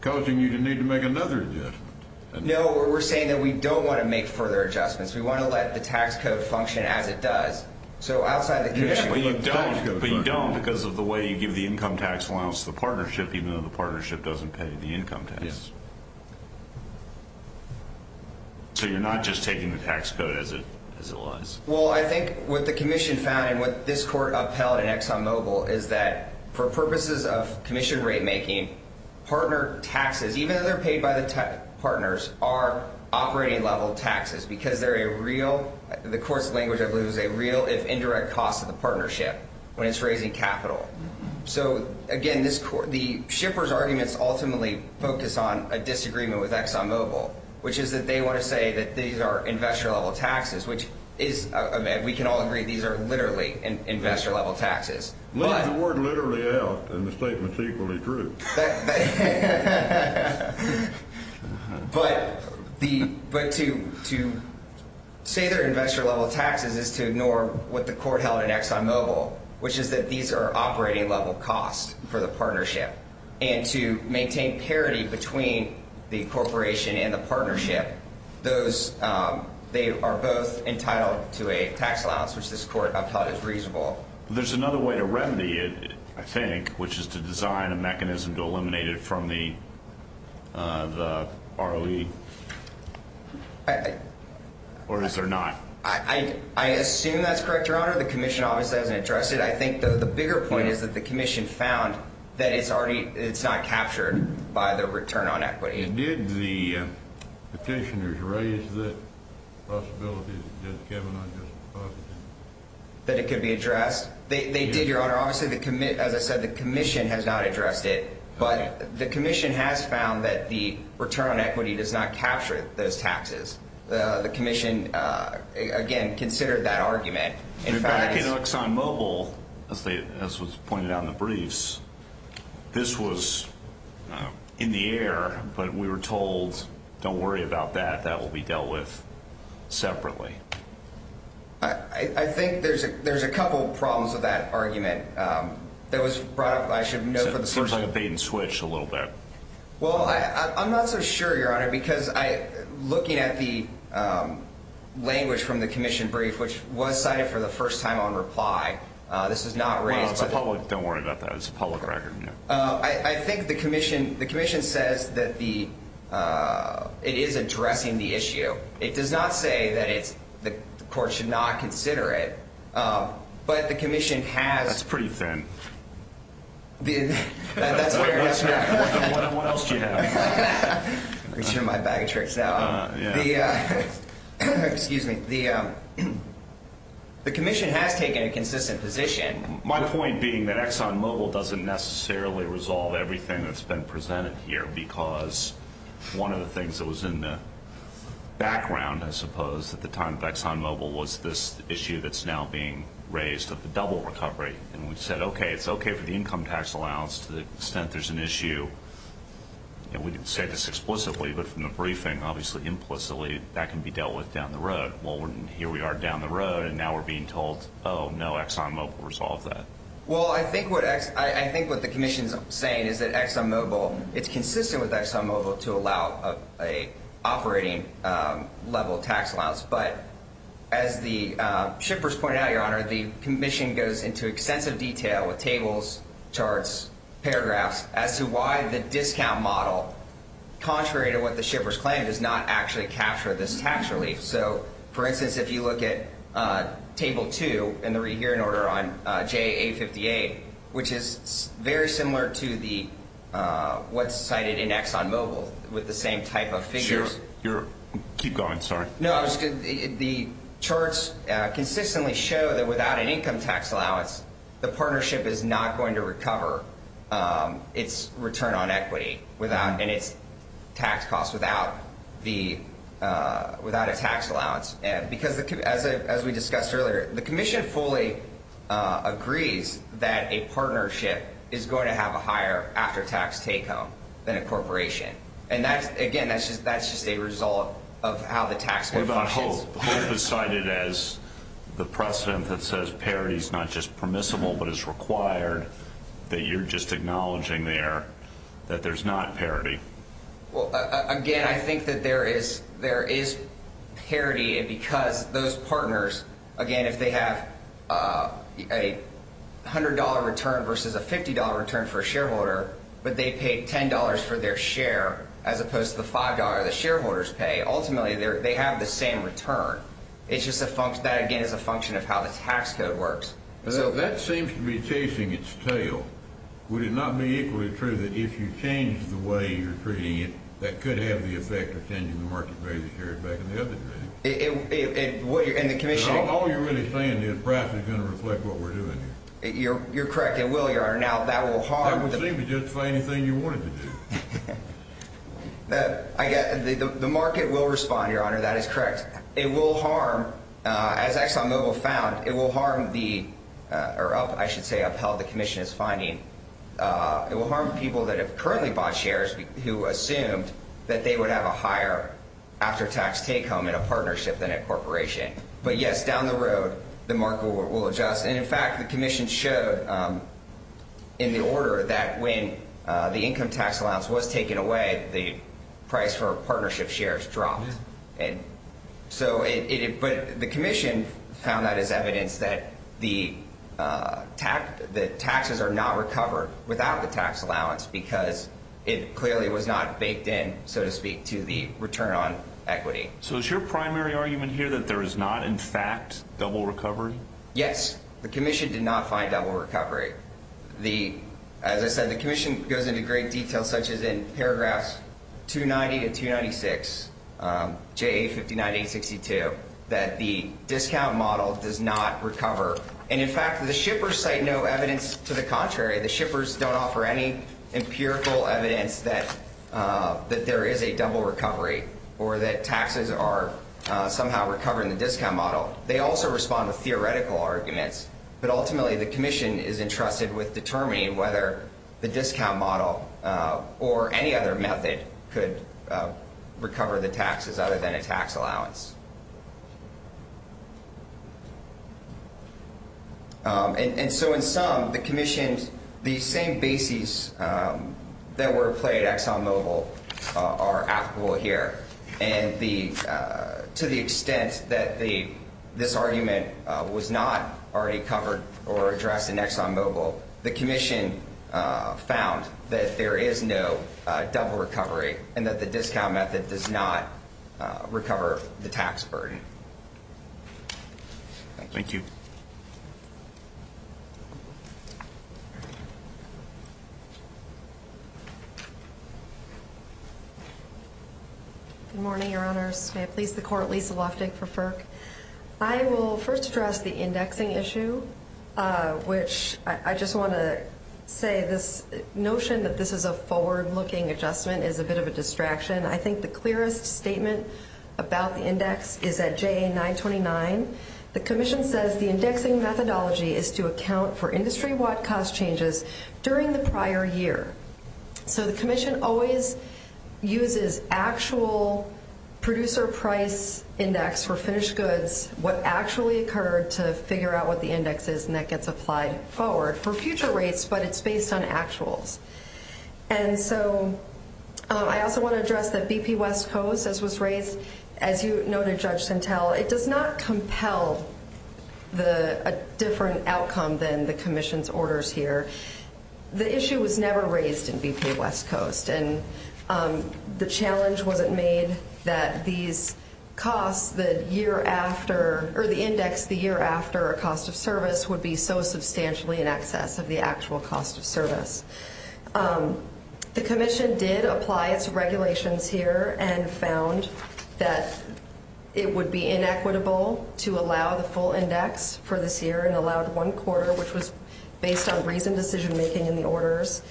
causing you to need to make another adjustment. No, we're saying that we don't want to make further adjustments. We want to let the tax code function as it does. So outside the… But you don't because of the way you give the income tax allowance to the partnership, even though the partnership doesn't pay the income tax. Yes. So you're not just taking the tax code as it lies. Well, I think what the commission found and what this court upheld in ExxonMobil is that for purposes of commission rate-making, partner taxes, even though they're paid by the partners, are operating-level taxes because they're a real—the court's language, I believe, is a real if indirect cost to the partnership when it's raising capital. So, again, the shipper's arguments ultimately focus on a disagreement with ExxonMobil, which is that they want to say that these are investor-level taxes, which is—we can all agree these are literally investor-level taxes. Leave the word literally out and the statement's equally true. But to say they're investor-level taxes is to ignore what the court held in ExxonMobil, which is that these are operating-level costs for the partnership. And to maintain parity between the corporation and the partnership, they are both entitled to a tax allowance, which this court upheld as reasonable. There's another way to remedy it, I think, which is to design a mechanism to eliminate it from the ROE. Or is there not? I assume that's correct, Your Honor. Your Honor, the commission obviously hasn't addressed it. I think, though, the bigger point is that the commission found that it's already—it's not captured by the return on equity. Did the petitioners raise the possibility that it could be addressed? They did, Your Honor. Obviously, as I said, the commission has not addressed it. But the commission has found that the return on equity does not capture those taxes. The commission, again, considered that argument. In fact, in ExxonMobil, as was pointed out in the briefs, this was in the air, but we were told, don't worry about that, that will be dealt with separately. I think there's a couple problems with that argument that was brought up. I should know for the first time. It seems like a bait-and-switch a little bit. Well, I'm not so sure, Your Honor, because looking at the language from the commission brief, which was cited for the first time on reply, this was not raised. Don't worry about that. It's a public record. I think the commission says that it is addressing the issue. It does not say that the court should not consider it, but the commission has— That's pretty thin. That's fair. What else do you have? I'm going to turn my bag of tricks out. Excuse me. The commission has taken a consistent position. My point being that ExxonMobil doesn't necessarily resolve everything that's been presented here because one of the things that was in the background, I suppose, at the time of ExxonMobil, was this issue that's now being raised of the double recovery. And we said, okay, it's okay for the income tax allowance to the extent there's an issue. We didn't say this explicitly, but from the briefing, obviously implicitly, that can be dealt with down the road. Well, here we are down the road, and now we're being told, oh, no, ExxonMobil will resolve that. Well, I think what the commission is saying is that ExxonMobil— it's consistent with ExxonMobil to allow an operating-level tax allowance. But as the shippers pointed out, Your Honor, the commission goes into extensive detail with tables, charts, paragraphs, as to why the discount model, contrary to what the shippers claim, does not actually capture this tax relief. So, for instance, if you look at Table 2 in the rehearing order on JA58, which is very similar to what's cited in ExxonMobil with the same type of figures. Keep going, sorry. No, the charts consistently show that without an income tax allowance, the partnership is not going to recover its return on equity and its tax costs without a tax allowance. Because, as we discussed earlier, the commission fully agrees that a partnership is going to have a higher after-tax take-home than a corporation. And, again, that's just a result of how the tax code functions. What about HOPE? HOPE is cited as the precedent that says parity is not just permissible, but is required that you're just acknowledging there that there's not parity. Well, again, I think that there is parity because those partners, again, if they have a $100 return versus a $50 return for a shareholder, but they paid $10 for their share as opposed to the $5 the shareholders pay, ultimately they have the same return. It's just that, again, is a function of how the tax code works. So, if that seems to be chasing its tail, would it not be equally true that if you change the way you're treating it, that could have the effect of changing the market value of shares back in the other direction? And the commission— All you're really saying is price is going to reflect what we're doing here. You're correct. It will. That would seem to justify anything you wanted to do. The market will respond, Your Honor. That is correct. It will harm, as ExxonMobil found, it will harm the—or I should say upheld the commission's finding. It will harm people that have currently bought shares who assumed that they would have a higher after-tax take-home in a partnership than a corporation. But, yes, down the road, the market will adjust. And, in fact, the commission showed in the order that when the income tax allowance was taken away, the price for partnership shares dropped. But the commission found that as evidence that the taxes are not recovered without the tax allowance because it clearly was not baked in, so to speak, to the return on equity. So is your primary argument here that there is not, in fact, double recovery? Yes. The commission did not find double recovery. As I said, the commission goes into great detail, such as in paragraphs 290 to 296, JA59-862, that the discount model does not recover. And, in fact, the shippers cite no evidence to the contrary. The shippers don't offer any empirical evidence that there is a double recovery or that taxes are somehow recovering the discount model. They also respond with theoretical arguments. But, ultimately, the commission is entrusted with determining whether the discount model or any other method could recover the taxes other than a tax allowance. And so, in sum, the commission, the same bases that were played at ExxonMobil are applicable here. And to the extent that this argument was not already covered or addressed in ExxonMobil, the commission found that there is no double recovery and that the discount method does not recover the tax burden. Thank you. Good morning, Your Honors. May it please the Court, Lisa Loftig for FERC. I will first address the indexing issue, which I just want to say this notion that this is a forward-looking adjustment is a bit of a distraction. I think the clearest statement about the index is at JA 929. The commission says the indexing methodology is to account for industry-wide cost changes during the prior year. So the commission always uses actual producer price index for finished goods, what actually occurred to figure out what the index is, and that gets applied forward for future rates, but it's based on actuals. And so I also want to address that BP West Coast, as was raised, as you noted, Judge Sentelle, it does not compel a different outcome than the commission's orders here. The issue was never raised in BP West Coast, and the challenge wasn't made that these costs, the year after, or the index the year after a cost of service would be so substantially in excess of the actual cost of service. The commission did apply its regulations here and found that it would be inequitable to allow the full index for this year and allowed one quarter, which was based on reasoned decision-making in the orders.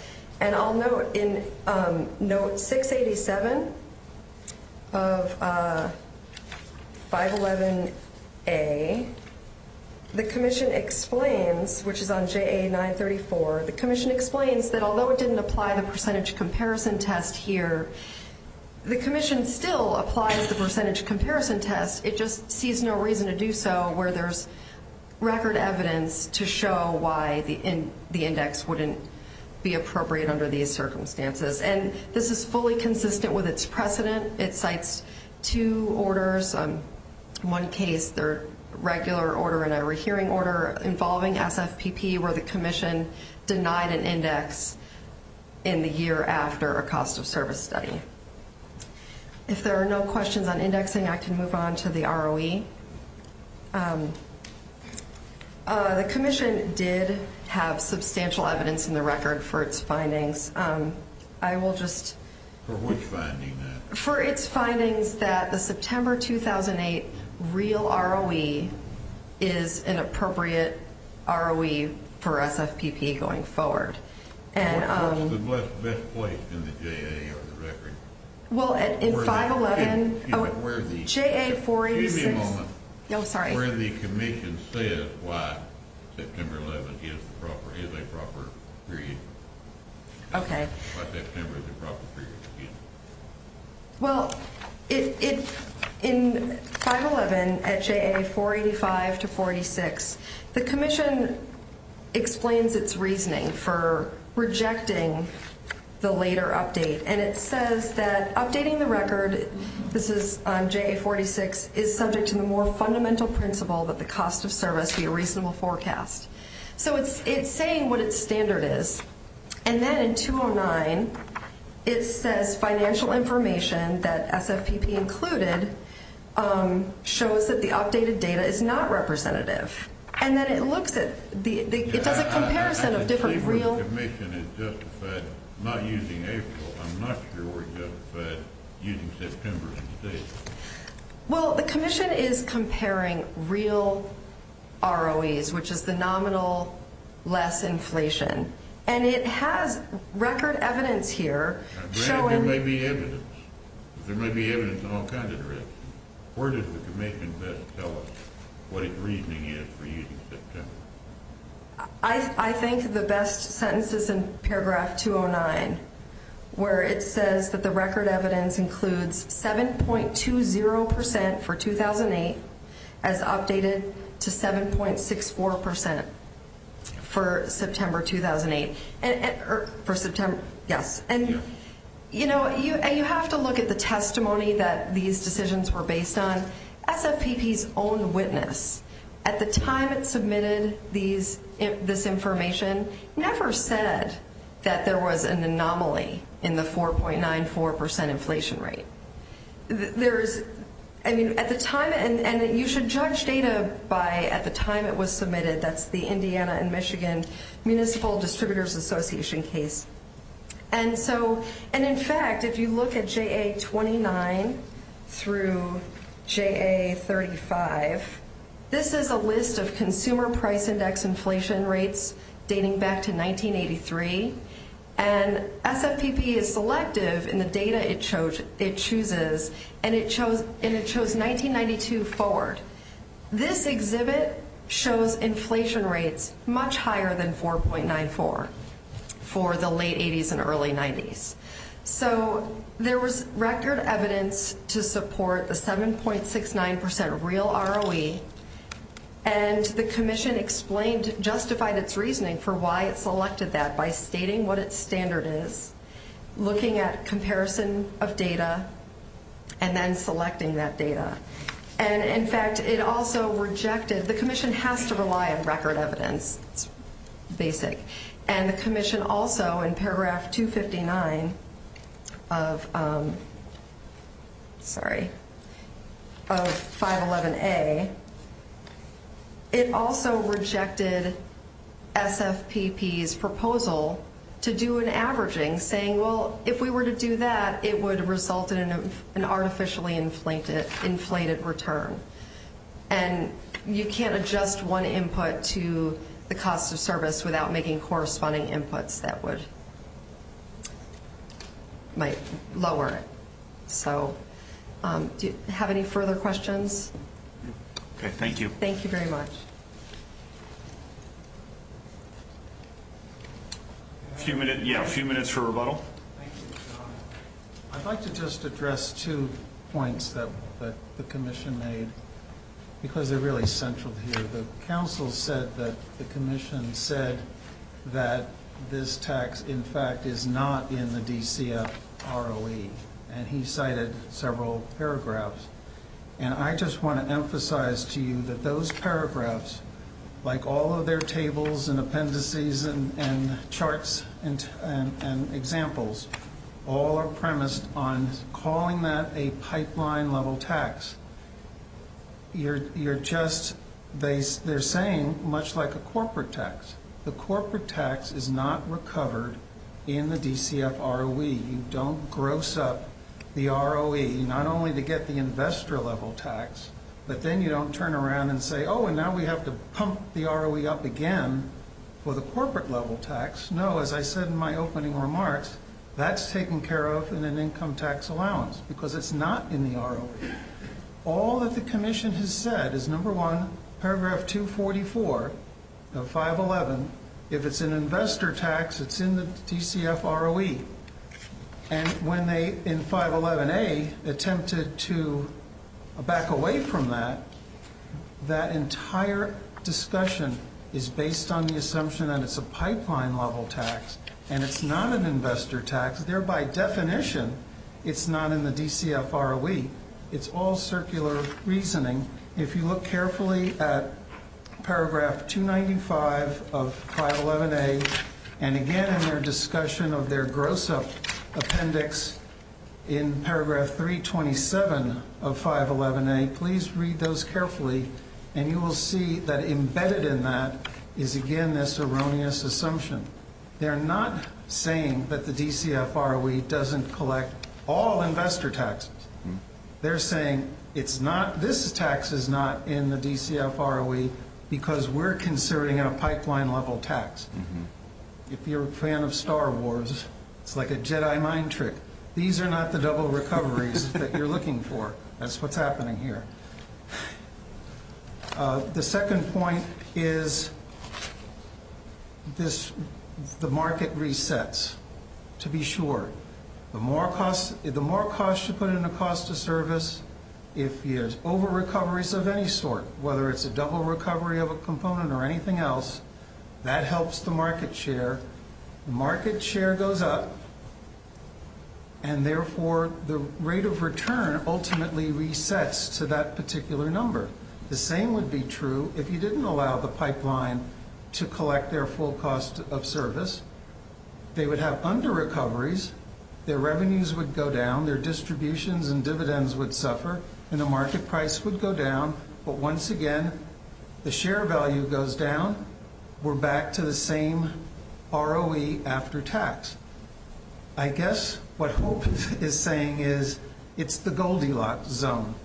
And I'll note in note 687 of 511A, the commission explains, which is on JA 934, the commission explains that although it didn't apply the percentage comparison test here, the commission still applies the percentage comparison test. It just sees no reason to do so where there's record evidence to show why the index wouldn't be appropriate under these circumstances. And this is fully consistent with its precedent. It cites two orders. One case, their regular order and a rehearing order involving SFPP where the commission denied an index in the year after a cost of service study. If there are no questions on indexing, I can move on to the ROE. The commission did have substantial evidence in the record for its findings. I will just... For which finding? For its findings that the September 2008 real ROE is an appropriate ROE for SFPP going forward. What's the best place in the JA or the record? Well, in 511... Where the... JA 486... Excuse me a moment. Oh, sorry. Where the commission says why September 11 is a proper period. Okay. Why September is a proper period. Well, in 511, at JA 485 to 486, the commission explains its reasoning for rejecting the later update. And it says that updating the record, this is JA 486, is subject to the more fundamental principle that the cost of service be a reasonable forecast. So it's saying what its standard is. And then in 209, it says financial information that SFPP included shows that the updated data is not representative. And then it looks at the... It does a comparison of different real... Not using April. I'm not sure we're justified using September instead. Well, the commission is comparing real ROEs, which is the nominal less inflation. And it has record evidence here showing... There may be evidence. There may be evidence in all kinds of directions. Where does the commission best tell us what its reasoning is for using September? I think the best sentence is in paragraph 209, where it says that the record evidence includes 7.20% for 2008 as updated to 7.64% for September 2008. And you have to look at the testimony that these decisions were based on. SFPP's own witness at the time it submitted this information never said that there was an anomaly in the 4.94% inflation rate. There is... I mean, at the time... And you should judge data by at the time it was submitted. That's the Indiana and Michigan Municipal Distributors Association case. And in fact, if you look at JA-29 through JA-35, this is a list of consumer price index inflation rates dating back to 1983. And SFPP is selective in the data it chooses, and it chose 1992 forward. This exhibit shows inflation rates much higher than 4.94 for the late 80s and early 90s. So there was record evidence to support the 7.69% real ROE, and the commission justified its reasoning for why it selected that by stating what its standard is, looking at comparison of data, and then selecting that data. And in fact, it also rejected... The commission has to rely on record evidence. It's basic. And the commission also, in paragraph 259 of 511A, it also rejected SFPP's proposal to do an averaging, saying, well, if we were to do that, it would result in an artificially inflated return. And you can't adjust one input to the cost of service without making corresponding inputs that might lower it. So do you have any further questions? Okay, thank you. Thank you very much. A few minutes for rebuttal. Thank you. I'd like to just address two points that the commission made because they're really central here. The council said that the commission said that this tax, in fact, is not in the DCF ROE, and he cited several paragraphs. And I just want to emphasize to you that those paragraphs, like all of their tables and appendices and charts and examples, all are premised on calling that a pipeline-level tax. They're saying much like a corporate tax. The corporate tax is not recovered in the DCF ROE. You don't gross up the ROE, not only to get the investor-level tax, but then you don't turn around and say, oh, and now we have to pump the ROE up again for the corporate-level tax. No, as I said in my opening remarks, that's taken care of in an income tax allowance because it's not in the ROE. All that the commission has said is, number one, paragraph 244 of 511, if it's an investor tax, it's in the DCF ROE. And when they, in 511A, attempted to back away from that, that entire discussion is based on the assumption that it's a pipeline-level tax and it's not an investor tax. There, by definition, it's not in the DCF ROE. It's all circular reasoning. If you look carefully at paragraph 295 of 511A, and again in their discussion of their gross-up appendix in paragraph 327 of 511A, please read those carefully, and you will see that embedded in that is, again, this erroneous assumption. They're not saying that the DCF ROE doesn't collect all investor taxes. They're saying this tax is not in the DCF ROE because we're considering a pipeline-level tax. If you're a fan of Star Wars, it's like a Jedi mind trick. These are not the double recoveries that you're looking for. That's what's happening here. The second point is the market resets, to be sure. The more costs you put in the cost of service, if there's over-recoveries of any sort, whether it's a double recovery of a component or anything else, that helps the market share. The market share goes up, and therefore the rate of return ultimately resets to that particular number. The same would be true if you didn't allow the pipeline to collect their full cost of service. They would have under-recoveries. Their revenues would go down, their distributions and dividends would suffer, and the market price would go down. But once again, the share value goes down. We're back to the same ROE after tax. I guess what Hope is saying is it's the Goldilocks zone.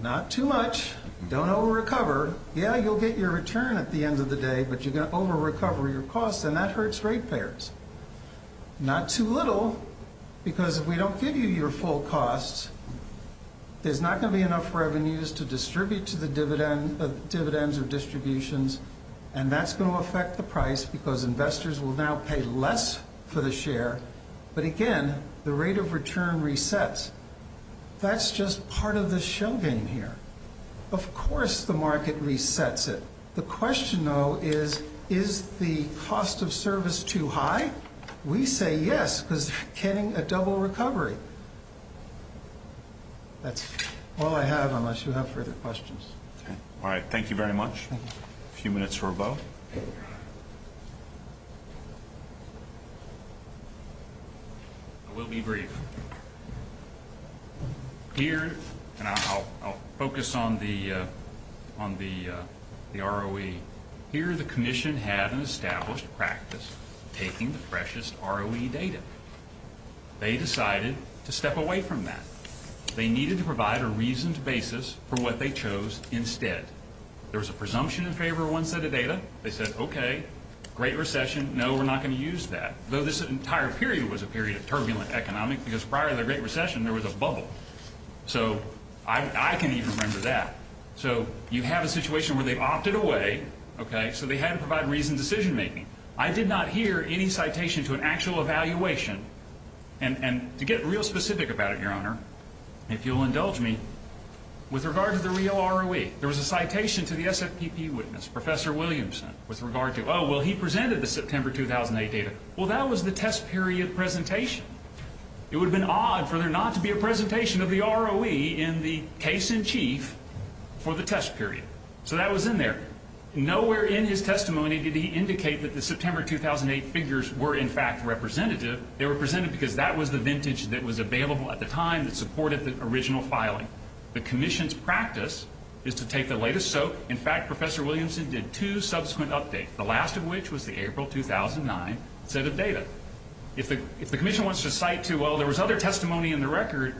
Not too much. Don't over-recover. Yeah, you'll get your return at the end of the day, but you're going to over-recover your costs, and that hurts ratepayers. Not too little, because if we don't give you your full costs, there's not going to be enough revenues to distribute to the dividends or distributions, and that's going to affect the price because investors will now pay less for the share. But again, the rate of return resets. That's just part of the show game here. Of course the market resets it. The question, though, is is the cost of service too high? We say yes, because you're getting a double recovery. That's all I have unless you have further questions. All right. Thank you very much. A few minutes for a vote. I will be brief. Here, and I'll focus on the ROE. Here the commission had an established practice taking the freshest ROE data. They decided to step away from that. They needed to provide a reasoned basis for what they chose instead. There was a presumption in favor of one set of data. They said, okay, great recession, no, we're not going to use that, though this entire period was a period of turbulent economic, because prior to the Great Recession there was a bubble. So I can even remember that. So you have a situation where they've opted away, okay, so they had to provide reasoned decision making. I did not hear any citation to an actual evaluation. And to get real specific about it, Your Honor, if you'll indulge me, with regard to the real ROE, there was a citation to the SFPP witness, Professor Williamson, with regard to, oh, well, he presented the September 2008 data. Well, that was the test period presentation. It would have been odd for there not to be a presentation of the ROE in the case in chief for the test period. So that was in there. Nowhere in his testimony did he indicate that the September 2008 figures were, in fact, representative. They were presented because that was the vintage that was available at the time that supported the original filing. The commission's practice is to take the latest SOAP. In fact, Professor Williamson did two subsequent updates, the last of which was the April 2009 set of data. If the commission wants to cite to, well, there was other testimony in the record,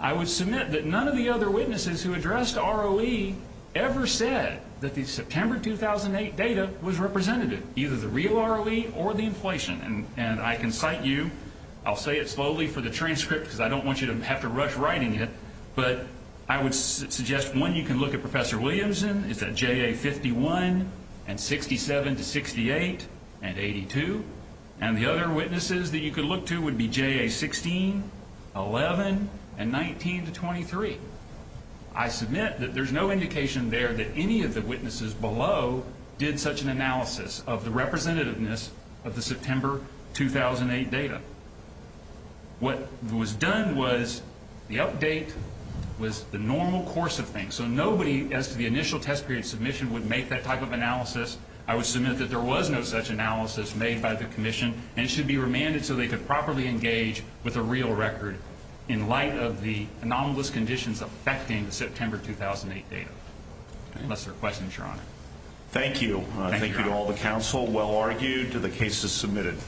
I would submit that none of the other witnesses who addressed ROE ever said that the September 2008 data was representative, either the real ROE or the inflation. And I can cite you. I'll say it slowly for the transcript because I don't want you to have to rush writing it. But I would suggest, one, you can look at Professor Williamson. It's at JA51 and 67 to 68 and 82. And the other witnesses that you could look to would be JA16, 11, and 19 to 23. I submit that there's no indication there that any of the witnesses below did such an analysis of the representativeness of the September 2008 data. What was done was the update was the normal course of things. So nobody as to the initial test period submission would make that type of analysis. I would submit that there was no such analysis made by the commission, and it should be remanded so they could properly engage with the real record in light of the anomalous conditions affecting the September 2008 data. Unless there are questions, Your Honor. Thank you. Thank you to all the counsel. Well argued. The case is submitted.